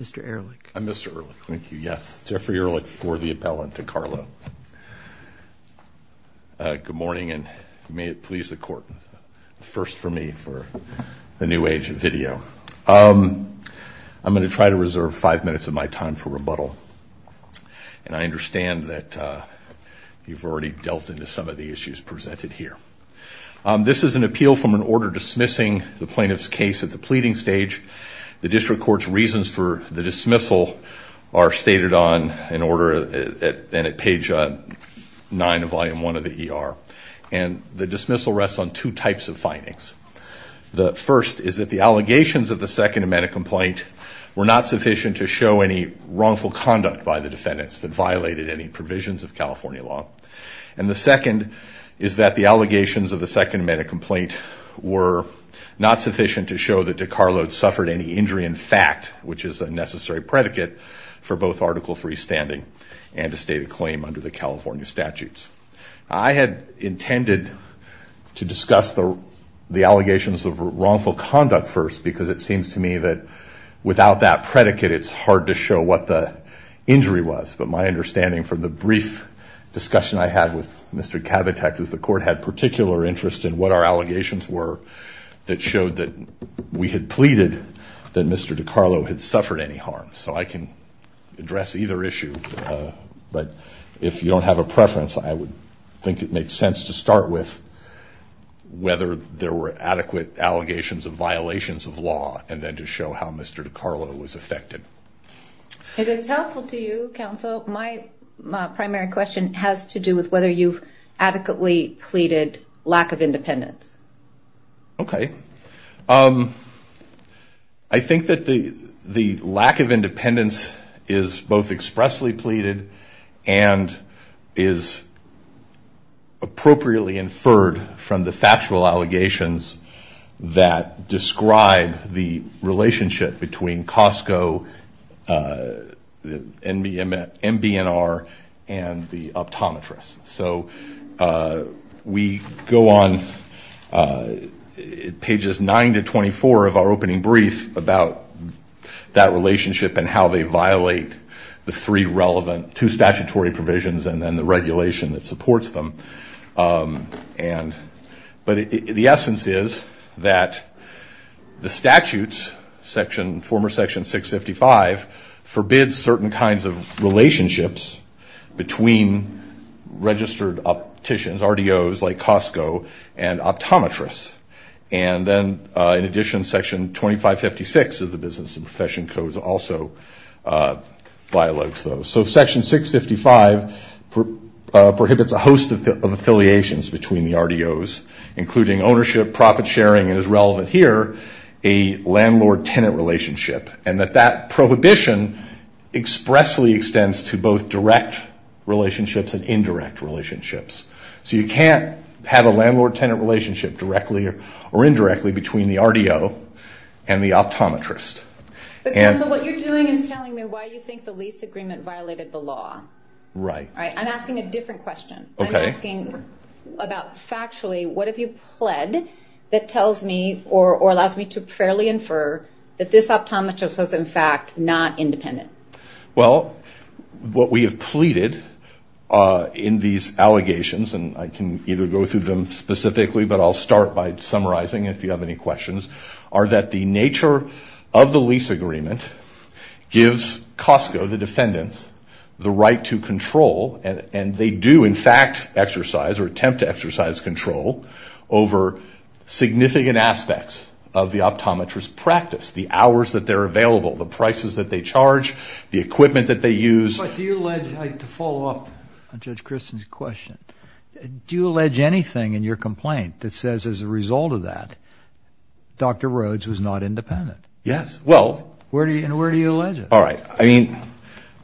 Mr. Ehrlich. I'm Mr. Ehrlich. Thank you. Yes. Jeffrey Ehrlich for the appellant DeCarlo. Good morning, and may it please the Court, a first for me for the new age of video. I'm going to try to reserve five minutes of my time for rebuttal, and I understand that you've already delved into some of the issues presented here. This is an appeal from an order dismissing the plaintiff's case at the pleading stage. The district court's reasons for the dismissal are stated on an order, and at page 9 of volume 1 of the ER. And the dismissal rests on two types of findings. The first is that the allegations of the Second Amendment complaint were not sufficient to show any wrongful conduct by the defendants that violated any provisions of California law. And the second is that the allegations of the Second Amendment complaint were not sufficient to show that DeCarlo had suffered any injury in fact, which is a necessary predicate for both Article III standing and a stated claim under the California statutes. I had intended to discuss the allegations of wrongful conduct first because it seems to me that without that predicate, it's hard to show what the injury was. But my understanding from the brief discussion I had with Mr. Kavitak was the court had particular interest in what our allegations were that showed that we had pleaded that Mr. DeCarlo had suffered any harm. So I can address either issue, but if you don't have a preference, I would think it makes sense to start with whether there were adequate allegations of violations of law and then to show how Mr. DeCarlo was affected. If it's helpful to you, Counsel, my primary question has to do with whether you've adequately pleaded lack of independence. Okay. I think that the lack of independence is both expressly pleaded and is appropriately inferred from the factual allegations that describe the relationship between Costco, MB&R, and the optometrists. So we go on pages 9 to 24 of our opening brief about that relationship and how they violate the three relevant two statutory provisions and then the regulation that supports them. But the essence is that the statutes, former Section 655, forbids certain kinds of relationships between registered opticians, RDOs like Costco, and optometrists. And then in addition, Section 2556 of the Business and Profession Codes also violates those. So Section 655 prohibits a host of affiliations between the RDOs, including ownership, profit sharing, and is relevant here, a landlord-tenant relationship. And that that prohibition expressly extends to both direct relationships and indirect relationships. So you can't have a landlord-tenant relationship directly or indirectly between the RDO and the optometrist. So what you're doing is telling me why you think the lease agreement violated the law. Right. I'm asking a different question. Okay. I'm asking about factually, what have you pled that tells me or allows me to fairly infer that this optometrist was in fact not independent? Well, what we have pleaded in these allegations, and I can either go through them specifically, but I'll start by summarizing if you have any questions, are that the nature of the lease agreement gives Costco, the defendants, the right to control, and they do in fact exercise or attempt to exercise control over significant aspects of the optometrist's practice, the hours that they're available, the prices that they charge, the equipment that they use. But do you allege, to follow up on Judge Christen's question, do you allege anything in your complaint that says as a result of that Dr. Rhodes was not independent? Yes. Well. And where do you allege it? All right. I mean,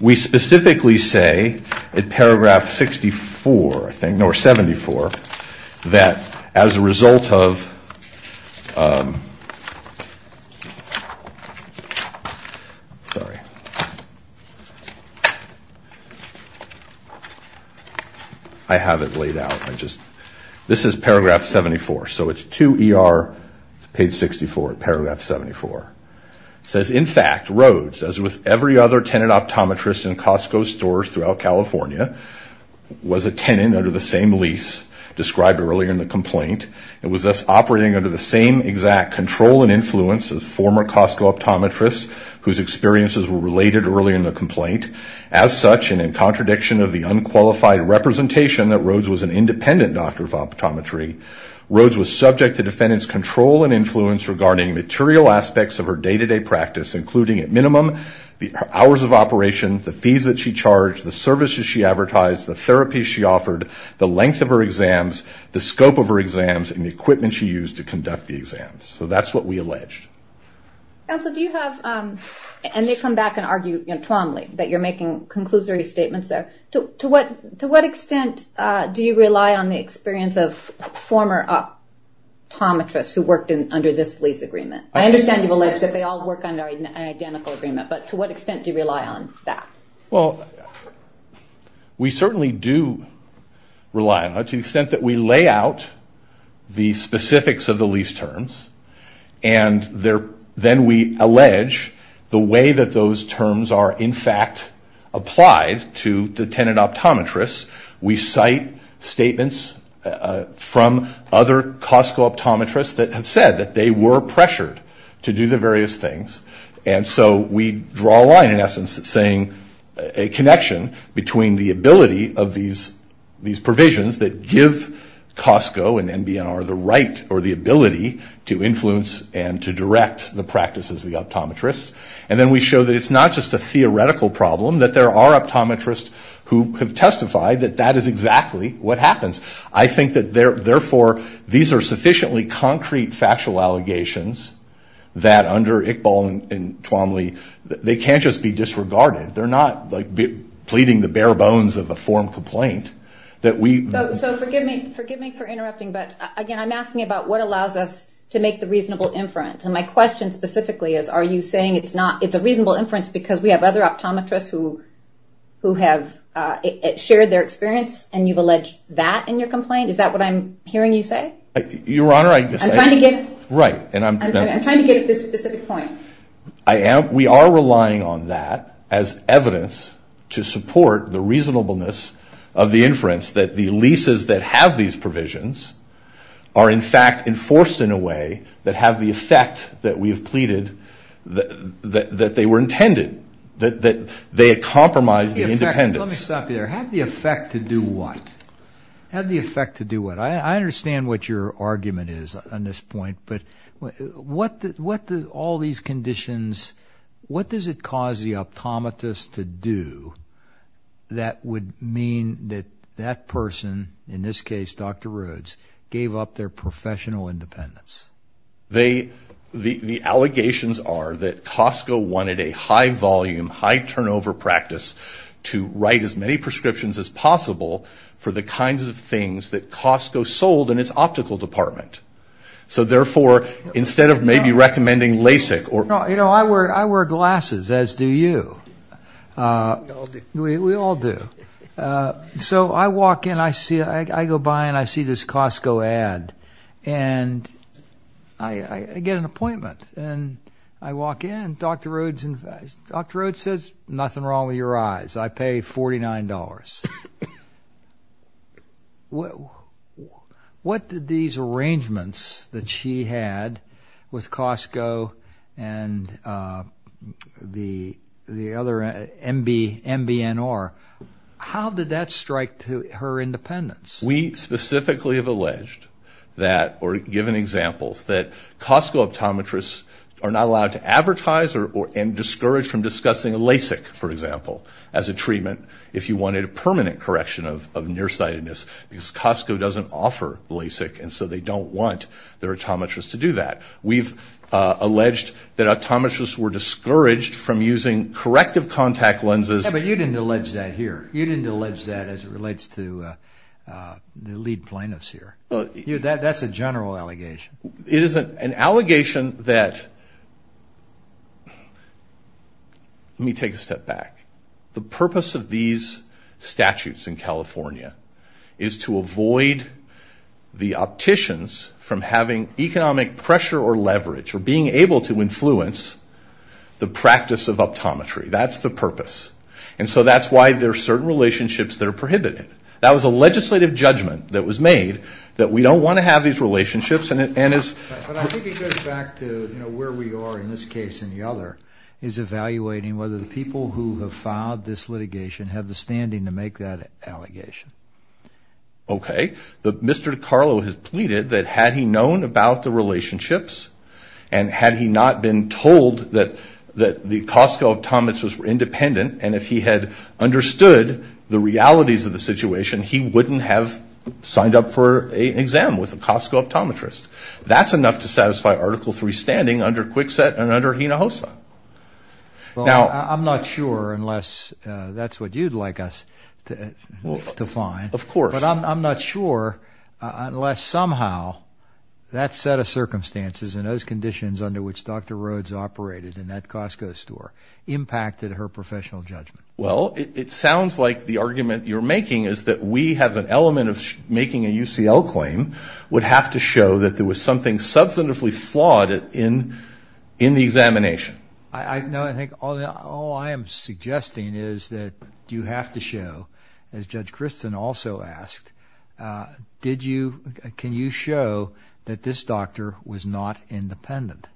we specifically say in Paragraph 64, I think, or 74, that as a result of ‑‑ sorry. I have it laid out. This is Paragraph 74. So it's 2ER, Page 64, Paragraph 74. It says, in fact, Rhodes, as with every other tenant optometrist in Costco's stores throughout California, was a tenant under the same lease described earlier in the complaint and was thus operating under the same exact control and influence as former Costco optometrists whose experiences were related earlier in the complaint. As such, and in contradiction of the unqualified representation that Rhodes was an independent doctor of optometry, Rhodes was subject to defendant's control and influence regarding material aspects of her day-to-day practice, including at minimum the hours of operation, the fees that she charged, the services she advertised, the therapies she offered, the length of her exams, the scope of her exams, and the equipment she used to conduct the exams. So that's what we allege. Counsel, do you have ‑‑ and they come back and argue promptly that you're making conclusory statements there. To what extent do you rely on the experience of former optometrists who worked under this lease agreement? I understand you've alleged that they all work under an identical agreement, but to what extent do you rely on that? Well, we certainly do rely on it, to the extent that we lay out the specifics of the lease terms and then we allege the way that those terms are, in fact, applied to the tenant optometrists. We cite statements from other Costco optometrists that have said that they were pressured to do the various things. And so we draw a line, in essence, saying a connection between the ability of these provisions that give Costco and NBNR the right or the ability to influence and to direct the practices of the optometrists. And then we show that it's not just a theoretical problem, that there are optometrists who have testified that that is exactly what happens. I think that, therefore, these are sufficiently concrete factual allegations that under Iqbal and Twomley, they can't just be disregarded. They're not pleading the bare bones of a form complaint. So forgive me for interrupting, but, again, I'm asking about what allows us to make the reasonable inference. My question specifically is, are you saying it's a reasonable inference because we have other optometrists who have shared their experience and you've alleged that in your complaint? Is that what I'm hearing you say? Your Honor, I guess I'm trying to get at this specific point. We are relying on that as evidence to support the reasonableness of the inference that the leases that have these provisions are, in fact, enforced in a way that have the effect that we have pleaded that they were intended, that they had compromised the independence. Let me stop you there. Have the effect to do what? Have the effect to do what? I understand what your argument is on this point, but what do all these conditions, what does it cause the optometrist to do that would mean that that person, in this case Dr. Rhodes, gave up their professional independence? The allegations are that Costco wanted a high-volume, high-turnover practice to write as many prescriptions as possible for the kinds of things that Costco sold in its optical department. So, therefore, instead of maybe recommending LASIK or... You know, I wear glasses, as do you. We all do. We all do. So I walk in, I go by, and I see this Costco ad, and I get an appointment. And I walk in, Dr. Rhodes says, nothing wrong with your eyes. I pay $49. What did these arrangements that she had with Costco and the other MBNR, how did that strike her independence? We specifically have alleged that, or given examples, that Costco optometrists are not allowed to advertise and discouraged from discussing LASIK, for example, as a treatment if you wanted a permanent correction of nearsightedness because Costco doesn't offer LASIK, and so they don't want their optometrists to do that. We've alleged that optometrists were discouraged from using corrective contact lenses. Yeah, but you didn't allege that here. You didn't allege that as it relates to the lead plaintiffs here. That's a general allegation. It is an allegation that, let me take a step back. The purpose of these statutes in California is to avoid the opticians from having economic pressure or leverage or being able to influence the practice of optometry. That's the purpose. And so that's why there are certain relationships that are prohibited. That was a legislative judgment that was made that we don't want to have these relationships. But I think it goes back to where we are in this case and the other is evaluating whether the people who have filed this litigation have the standing to make that allegation. Okay. Mr. DeCarlo has pleaded that had he known about the relationships and had he not been told that the Costco optometrists were independent and if he had understood the realities of the situation, he wouldn't have signed up for an exam with a Costco optometrist. That's enough to satisfy Article III standing under Kwikset and under Hinojosa. Well, I'm not sure unless that's what you'd like us to find. Of course. But I'm not sure unless somehow that set of circumstances and those conditions under which Dr. Rhodes operated in that Costco store impacted her professional judgment. Well, it sounds like the argument you're making is that we have an element of making a UCL claim would have to show that there was something substantively flawed in the examination. No, I think all I am suggesting is that you have to show, as Judge Christin also asked, can you show that this doctor was not independent?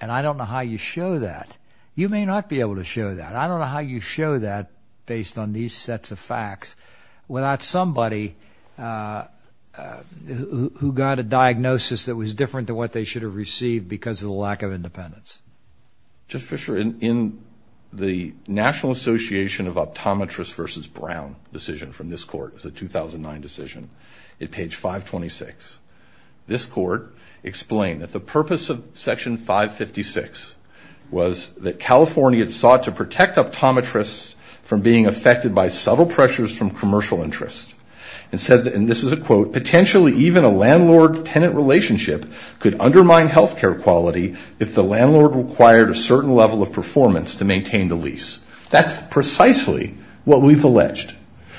And I don't know how you show that. You may not be able to show that. I don't know how you show that based on these sets of facts without somebody who got a diagnosis that was different to what they should have received because of the lack of independence. Judge Fischer, in the National Association of Optometrists versus Brown decision from this court, it was a 2009 decision, at page 526, this court explained that the purpose of Section 556 was that California sought to protect optometrists from being affected by subtle pressures from commercial interests. And said, and this is a quote, potentially even a landlord-tenant relationship could undermine health care quality if the landlord required a certain level of performance to maintain the lease. That's precisely what we've alleged,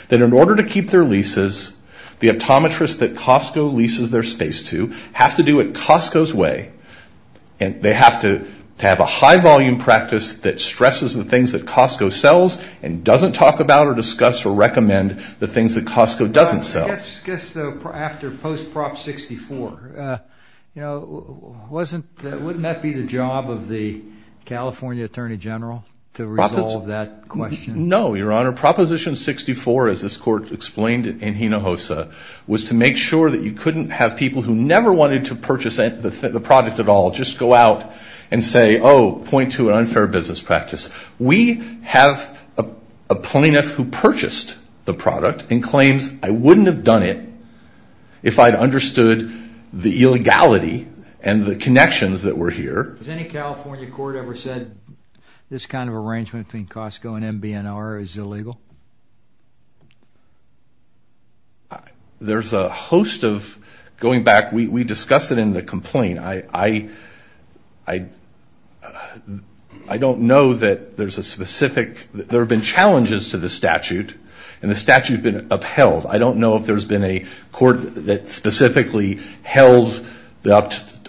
that in order to keep their leases, the optometrists that Costco leases their space to have to do it Costco's way and they have to have a high-volume practice that stresses the things that Costco sells and doesn't talk about or discuss or recommend the things that Costco doesn't sell. I guess after post-Prop 64, wouldn't that be the job of the California Attorney General to resolve that question? No, Your Honor. Proposition 64, as this court explained in Hinojosa, was to make sure that you couldn't have people who never wanted to purchase the product at all just go out and say, oh, point to an unfair business practice. We have a plaintiff who purchased the product and claims, I wouldn't have done it if I'd understood the illegality and the connections that were here. Has any California court ever said this kind of arrangement between Costco and MB&R is illegal? There's a host of, going back, we discussed it in the complaint. I don't know that there's a specific, there have been challenges to the statute and the statute has been upheld. I don't know if there's been a court that specifically held the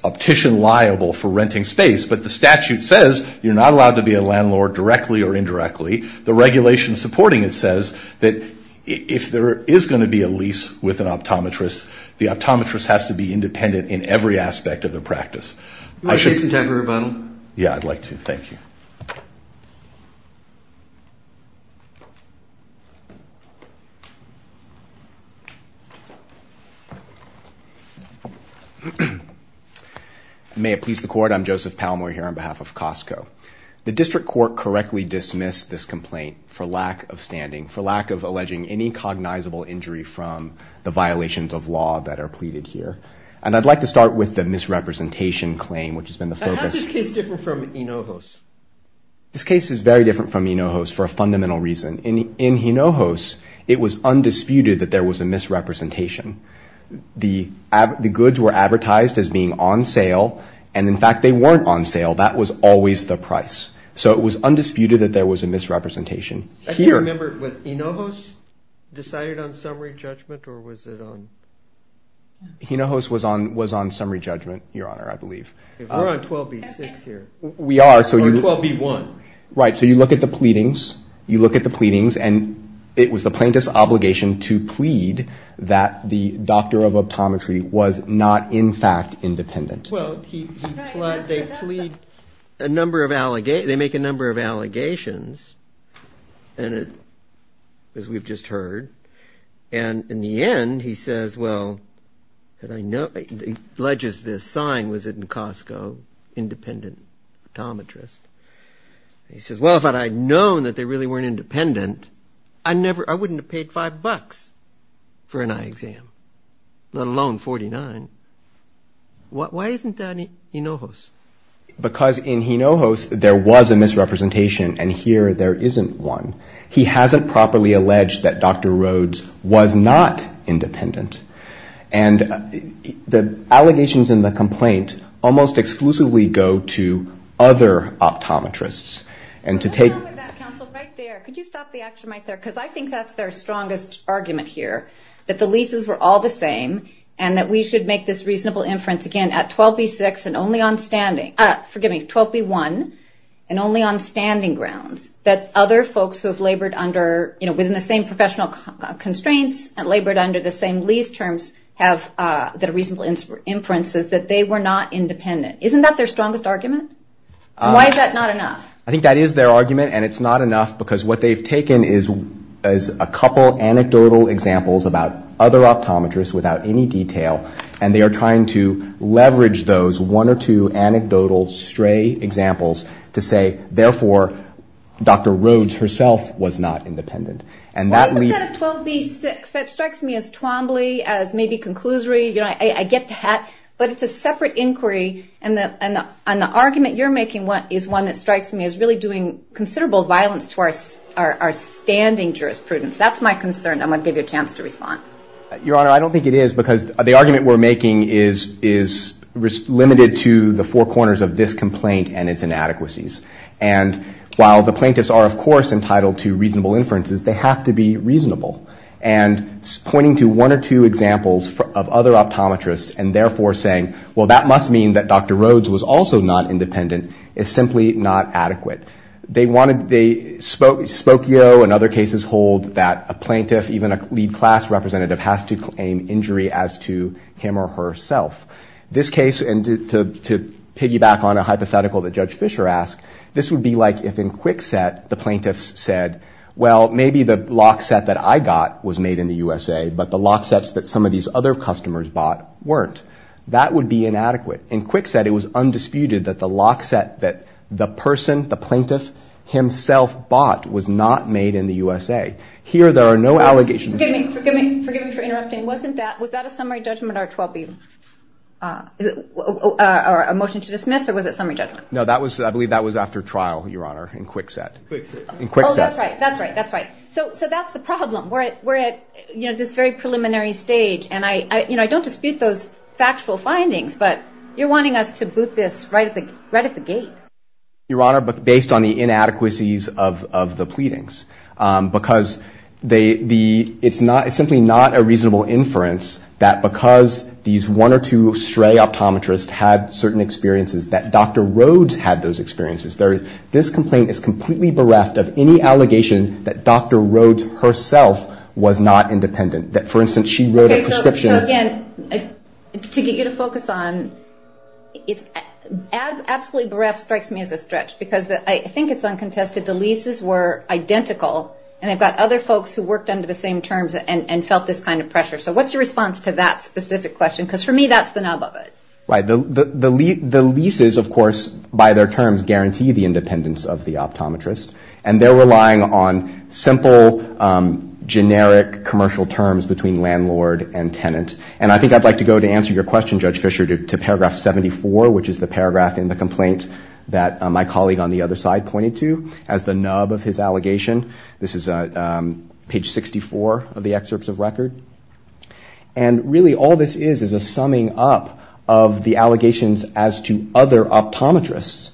optician liable for renting space, but the statute says you're not allowed to be a landlord directly or indirectly. The regulation supporting it says that if there is going to be a lease with an optometrist, the optometrist has to be independent in every aspect of the practice. Do you want to take some time for rebuttal? Yeah, I'd like to. Thank you. May it please the Court. I'm Joseph Palmore here on behalf of Costco. The district court correctly dismissed this complaint for lack of standing, for lack of alleging any cognizable injury from the violations of law that are pleaded here. And I'd like to start with the misrepresentation claim, which has been the focus. How is this case different from Hinojos? This case is very different from Hinojos for a fundamental reason. In Hinojos, it was undisputed that there was a misrepresentation. The goods were advertised as being on sale, and in fact they weren't on sale. That was always the price. So it was undisputed that there was a misrepresentation. I can't remember, was Hinojos decided on summary judgment or was it on? Hinojos was on summary judgment, Your Honor, I believe. We're on 12b-6 here. We are. Or 12b-1. Right. So you look at the pleadings, you look at the pleadings, and it was the plaintiff's obligation to plead that the doctor of optometry was not in fact independent. Well, they make a number of allegations, as we've just heard, and in the end he says, well, he pledges this sign, was it in Costco, independent optometrist. He says, well, if I'd known that they really weren't independent, I wouldn't have paid $5 for an eye exam, let alone $49. Why isn't that in Hinojos? Because in Hinojos there was a misrepresentation, and here there isn't one. He hasn't properly alleged that Dr. Rhodes was not independent. And the allegations in the complaint almost exclusively go to other optometrists. And to take – Hold on with that, counsel, right there. Could you stop the action right there? Because I think that's their strongest argument here, that the leases were all the same and that we should make this reasonable inference, again, at 12B6 and only on standing – forgive me, 12B1 and only on standing grounds, that other folks who have labored under – within the same professional constraints and labored under the same lease terms have the reasonable inferences that they were not independent. Isn't that their strongest argument? Why is that not enough? I think that is their argument, and it's not enough because what they've taken is a couple anecdotal examples about other optometrists without any detail, and they are trying to leverage those one or two anecdotal stray examples to say, therefore, Dr. Rhodes herself was not independent. Why is it 12B6? That strikes me as twombly, as maybe conclusory. I get the hat, but it's a separate inquiry, and the argument you're making is one that strikes me as really doing considerable violence to our standing jurisprudence. That's my concern. I'm going to give you a chance to respond. Your Honor, I don't think it is because the argument we're making is limited to the four corners of this complaint and its inadequacies. And while the plaintiffs are, of course, entitled to reasonable inferences, they have to be reasonable. And pointing to one or two examples of other optometrists and, therefore, saying, well, that must mean that Dr. Rhodes was also not independent is simply not adequate. Spokio and other cases hold that a plaintiff, even a lead class representative, has to claim injury as to him or herself. This case, and to piggyback on a hypothetical that Judge Fischer asked, this would be like if in Kwikset the plaintiffs said, well, maybe the lock set that I got was made in the USA, but the lock sets that some of these other customers bought weren't. That would be inadequate. In Kwikset, it was undisputed that the lock set that the person, the plaintiff, himself bought was not made in the USA. Here, there are no allegations. Forgive me for interrupting. Was that a summary judgment or a motion to dismiss, or was it summary judgment? No, I believe that was after trial, Your Honor, in Kwikset. Oh, that's right, that's right. So that's the problem. We're at this very preliminary stage, and I don't dispute those factual findings, but you're wanting us to boot this right at the gate. Your Honor, based on the inadequacies of the pleadings, because it's simply not a reasonable inference that because these one or two stray optometrists had certain experiences that Dr. Rhodes had those experiences, this complaint is completely bereft of any allegation that Dr. Rhodes herself was not independent. For instance, she wrote a prescription. So again, to get you to focus on, absolutely bereft strikes me as a stretch because I think it's uncontested. The leases were identical, and I've got other folks who worked under the same terms and felt this kind of pressure. So what's your response to that specific question? Because for me, that's the nub of it. Right. The leases, of course, by their terms, guarantee the independence of the optometrist, and they're relying on simple, generic commercial terms between landlord and tenant. And I think I'd like to go to answer your question, Judge Fischer, to paragraph 74, which is the paragraph in the complaint that my colleague on the other side pointed to as the nub of his allegation. This is page 64 of the excerpts of record. And really all this is is a summing up of the allegations as to other optometrists.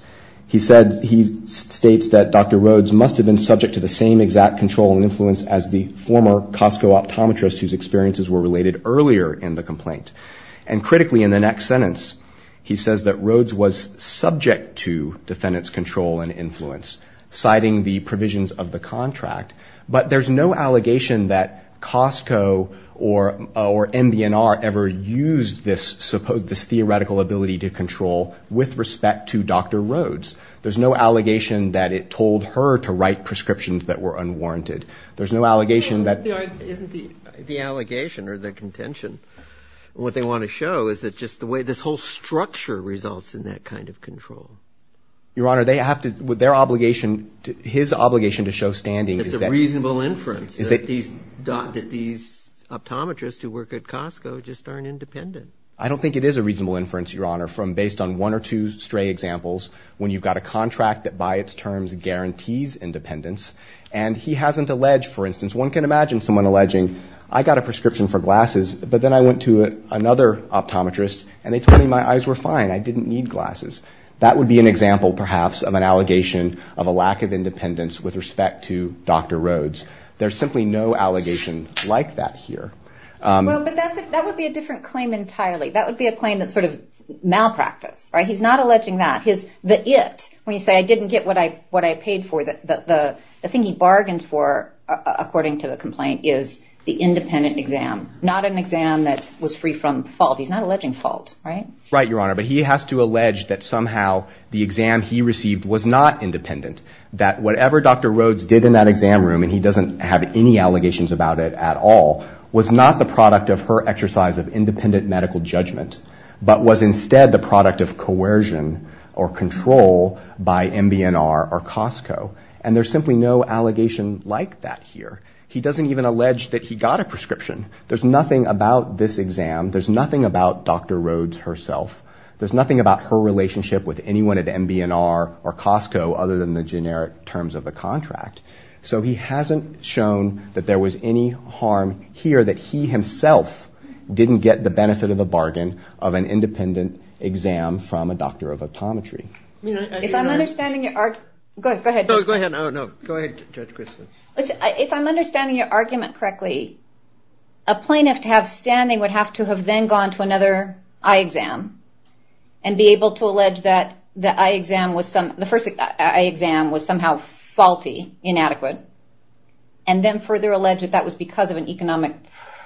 He states that Dr. Rhodes must have been subject to the same exact control and influence as the former Costco optometrist whose experiences were related earlier in the complaint. And critically, in the next sentence, he says that Rhodes was subject to defendant's control and influence, citing the provisions of the contract. But there's no allegation that Costco or MB&R ever used this theoretical ability to control with respect to Dr. Rhodes. There's no allegation that it told her to write prescriptions that were unwarranted. There's no allegation that – It isn't the allegation or the contention. What they want to show is that just the way this whole structure results in that kind of control. Your Honor, they have to – their obligation – his obligation to show standing is that – It's a reasonable inference that these optometrists who work at Costco just aren't independent. I don't think it is a reasonable inference, Your Honor, from based on one or two stray examples when you've got a contract that by its terms guarantees independence. And he hasn't alleged, for instance – one can imagine someone alleging, I got a prescription for glasses, but then I went to another optometrist, and they told me my eyes were fine. I didn't need glasses. That would be an example, perhaps, of an allegation of a lack of independence with respect to Dr. Rhodes. There's simply no allegation like that here. Well, but that would be a different claim entirely. That would be a claim that's sort of malpractice, right? He's not alleging that. The it, when you say I didn't get what I paid for, the thing he bargained for, according to the complaint, is the independent exam, not an exam that was free from fault. He's not alleging fault, right? Right, Your Honor, but he has to allege that somehow the exam he received was not independent, that whatever Dr. Rhodes did in that exam room, and he doesn't have any allegations about it at all, was not the product of her exercise of independent medical judgment, but was instead the product of coercion or control by MB&R or Costco, and there's simply no allegation like that here. He doesn't even allege that he got a prescription. There's nothing about this exam. There's nothing about Dr. Rhodes herself. There's nothing about her relationship with anyone at MB&R or Costco other than the generic terms of the contract, so he hasn't shown that there was any harm here, that he himself didn't get the benefit of the bargain of an independent exam from a doctor of optometry. If I'm understanding your argument correctly, a plaintiff to have standing would have to have then gone to another eye exam and be able to allege that the first eye exam was somehow faulty, inadequate, and then further allege that that was because of an economic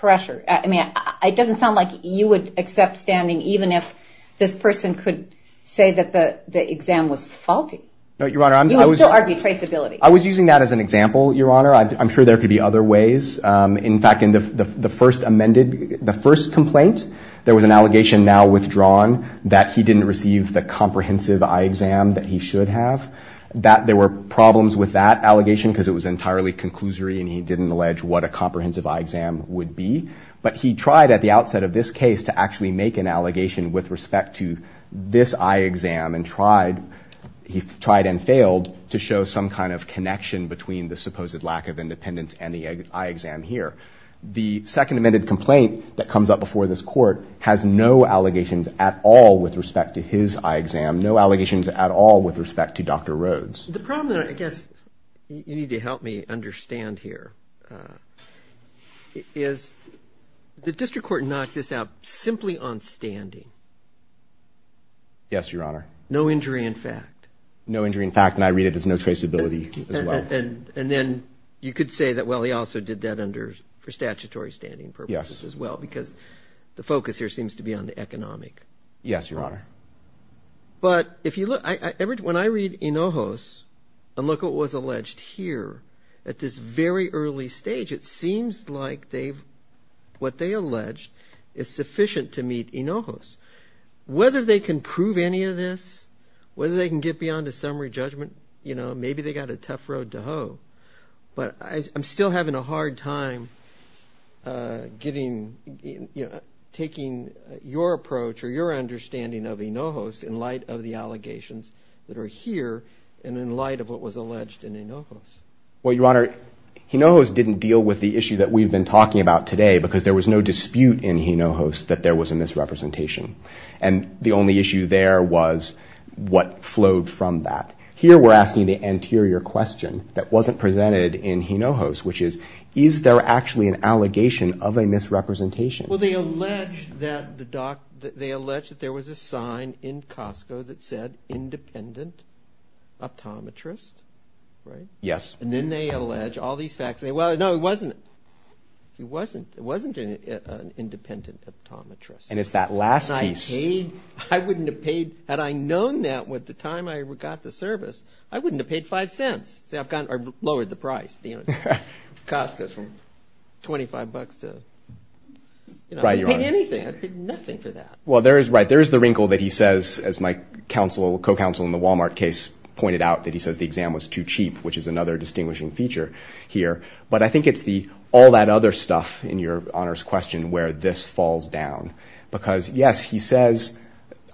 pressure. It doesn't sound like you would accept standing even if this person could say that the exam was faulty. You would still argue traceability. I was using that as an example, Your Honor. I'm sure there could be other ways. In fact, in the first complaint, there was an allegation now withdrawn that he didn't receive the comprehensive eye exam that he should have, that there were problems with that allegation because it was entirely conclusory and he didn't allege what a comprehensive eye exam would be, but he tried at the outset of this case to actually make an allegation with respect to this eye exam and he tried and failed to show some kind of connection between the supposed lack of independence and the eye exam here. The Second Amendment complaint that comes up before this Court has no allegations at all with respect to his eye exam, no allegations at all with respect to Dr. Rhodes. The problem that I guess you need to help me understand here is the district court knocked this out simply on standing. Yes, Your Honor. No injury in fact. No injury in fact, and I read it as no traceability as well. And then you could say that, well, he also did that for statutory standing purposes as well because the focus here seems to be on the economic. Yes, Your Honor. But when I read INOJOS and look what was alleged here, at this very early stage it seems like what they alleged is sufficient to meet INOJOS. Whether they can prove any of this, whether they can get beyond a summary judgment, maybe they've got a tough road to hoe. But I'm still having a hard time taking your approach or your understanding of INOJOS in light of the allegations that are here and in light of what was alleged in INOJOS. Well, Your Honor, INOJOS didn't deal with the issue that we've been talking about today because there was no dispute in INOJOS that there was a misrepresentation. And the only issue there was what flowed from that. Here we're asking the anterior question that wasn't presented in INOJOS, which is, is there actually an allegation of a misrepresentation? Well, they allege that there was a sign in Costco that said independent optometrist, right? Yes. And then they allege all these facts. Well, no, it wasn't. It wasn't an independent optometrist. And it's that last piece. And I paid. I wouldn't have paid. Had I known that at the time I got the service, I wouldn't have paid five cents. See, I've lowered the price. Costco's from 25 bucks to, you know, I'd pay anything. I'd pay nothing for that. Well, there is the wrinkle that he says, as my co-counsel in the Walmart case pointed out, that he says the exam was too cheap, which is another distinguishing feature here. But I think it's all that other stuff in your honors question where this falls down. Because, yes, he says,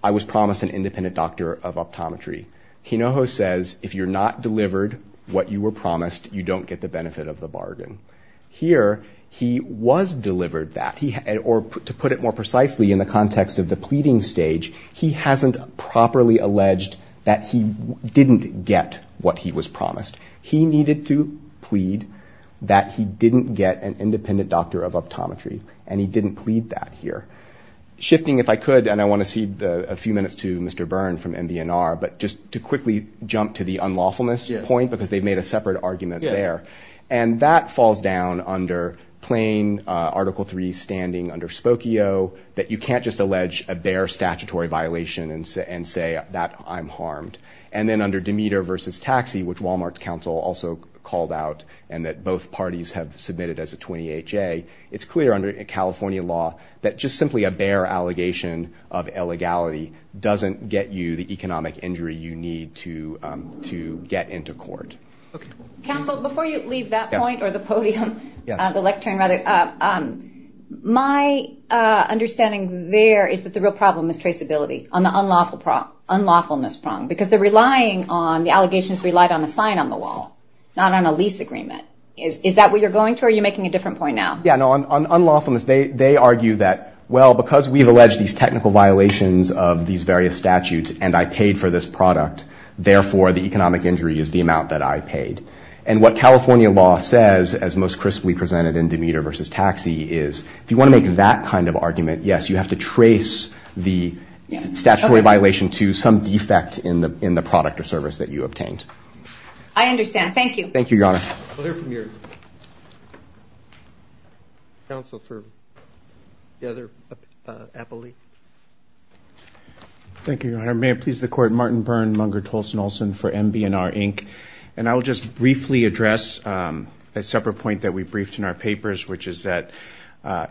I was promised an independent doctor of optometry. INOJOS says, if you're not delivered what you were promised, you don't get the benefit of the bargain. Here he was delivered that. Or to put it more precisely in the context of the pleading stage, he hasn't properly alleged that he didn't get what he was promised. He needed to plead that he didn't get an independent doctor of optometry. And he didn't plead that here. Shifting, if I could, and I want to cede a few minutes to Mr. Byrne from NBNR, but just to quickly jump to the unlawfulness point, because they've made a separate argument there. And that falls down under plain Article III standing under Spokio, that you can't just allege a bare statutory violation and say that I'm harmed. And then under Demeter v. Taxi, which Walmart's counsel also called out, and that both parties have submitted as a 28-J, it's clear under California law that just simply a bare allegation of illegality doesn't get you the economic injury you need to get into court. Counsel, before you leave that point or the podium, the lectern rather, my understanding there is that the real problem is traceability on the unlawfulness prong. Because the allegations relied on a sign on the wall, not on a lease agreement. Is that what you're going to, or are you making a different point now? On unlawfulness, they argue that, well, because we've alleged these technical violations of these various statutes and I paid for this product, therefore the economic injury is the amount that I paid. And what California law says, as most crisply presented in Demeter v. Taxi, is if you want to make that kind of argument, yes, you have to trace the statutory violation to some defect in the product or service that you obtained. I understand. Thank you. Thank you, Your Honor. We'll hear from your counsel for the other appellee. Thank you, Your Honor. May it please the Court, Martin Byrne, Munger, Tolson, Olson for MB&R, Inc. And I will just briefly address a separate point that we briefed in our papers, which is that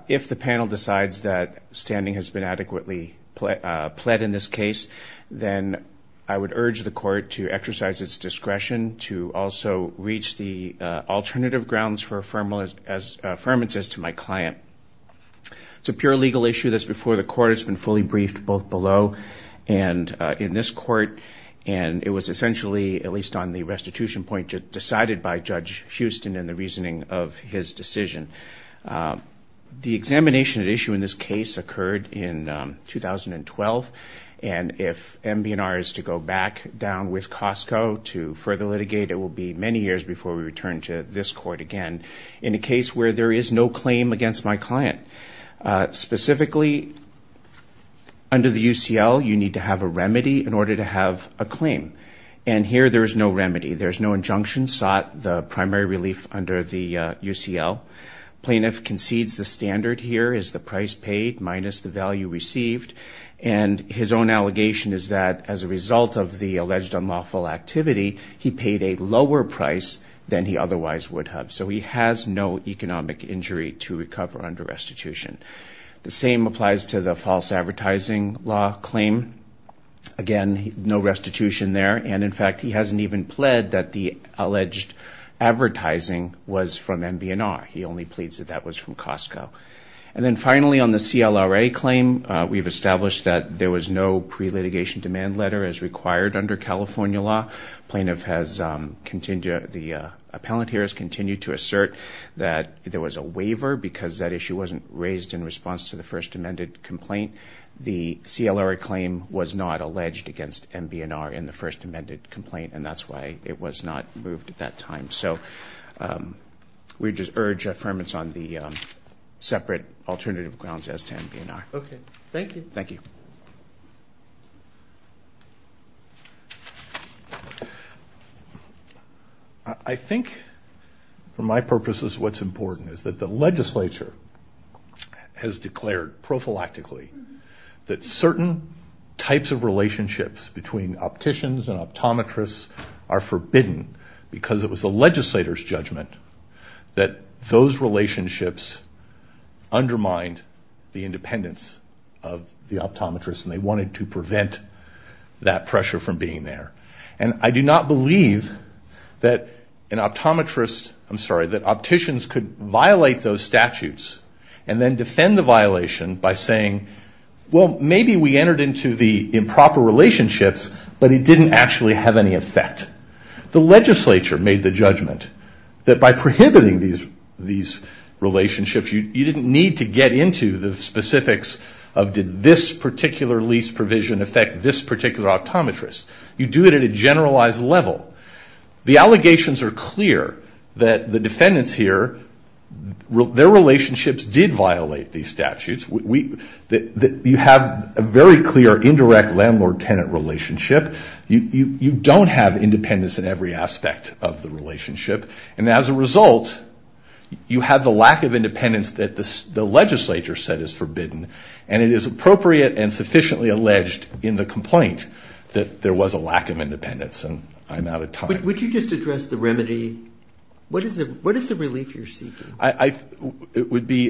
if the panel decides that standing has been adequately pled in this case, then I would urge the Court to exercise its discretion to also reach the alternative grounds for affirmance as to my client. It's a pure legal issue that's before the Court. It's been fully briefed both below and in this Court, and it was essentially, at least on the restitution point, decided by Judge Houston in the reasoning of his decision. The examination at issue in this case occurred in 2012, and if MB&R is to go back down with Costco to further litigate, it will be many years before we return to this Court again. In a case where there is no claim against my client, specifically under the UCL, you need to have a remedy in order to have a claim, and here there is no remedy. There is no injunction sought, the primary relief under the UCL. Plaintiff concedes the standard here is the price paid minus the value received, and his own allegation is that as a result of the alleged unlawful activity, he paid a lower price than he otherwise would have. So he has no economic injury to recover under restitution. The same applies to the false advertising law claim. Again, no restitution there, and in fact, he hasn't even pled that the alleged advertising was from MB&R. He only pleads that that was from Costco. And then finally on the CLRA claim, we've established that there was no pre-litigation demand letter as required under California law. The appellant here has continued to assert that there was a waiver because that issue wasn't raised in response to the first amended complaint. The CLRA claim was not alleged against MB&R in the first amended complaint, and that's why it was not moved at that time. So we just urge affirmance on the separate alternative grounds as to MB&R. Okay, thank you. Thank you. I think for my purposes, what's important is that the legislature has declared prophylactically that certain types of relationships between opticians and optometrists are forbidden because it was the legislator's judgment that those relationships undermined the independence of the optometrists, and they wanted to prevent that pressure from being there. And I do not believe that opticians could violate those statutes and then defend the violation by saying, well, maybe we entered into the improper relationships, but it didn't actually have any effect. The legislature made the judgment that by prohibiting these relationships, you didn't need to get into the specifics of did this particular lease provision affect this particular optometrist. You do it at a generalized level. The allegations are clear that the defendants here, their relationships did violate these statutes. You have a very clear indirect landlord-tenant relationship. You don't have independence in every aspect of the relationship, and as a result, you have the lack of independence that the legislature said is forbidden, and it is appropriate and sufficiently alleged in the complaint that there was a lack of independence, and I'm out of time. Would you just address the remedy? What is the relief you're seeking? It would be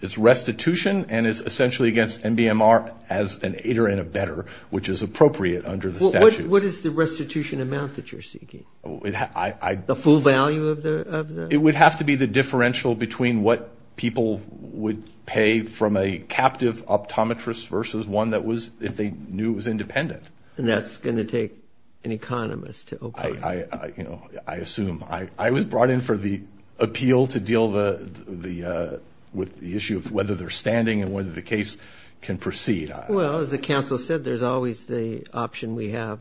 it's restitution, and it's essentially against NBMR as an aider and a better, which is appropriate under the statute. What is the restitution amount that you're seeking? The full value of the? It would have to be the differential between what people would pay from a captive optometrist versus one that was, if they knew it was independent. And that's going to take an economist to operate. I assume. I was brought in for the appeal to deal with the issue of whether they're standing and whether the case can proceed. Well, as the counsel said, there's always the option we have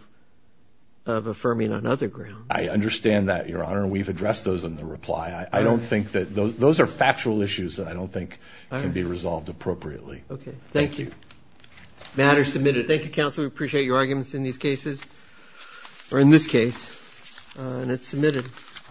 of affirming on other grounds. I understand that, Your Honor. We've addressed those in the reply. I don't think that those are factual issues that I don't think can be resolved appropriately. Okay. Thank you. Matter submitted. Thank you, counsel. We appreciate your arguments in these cases, or in this case. And it's submitted.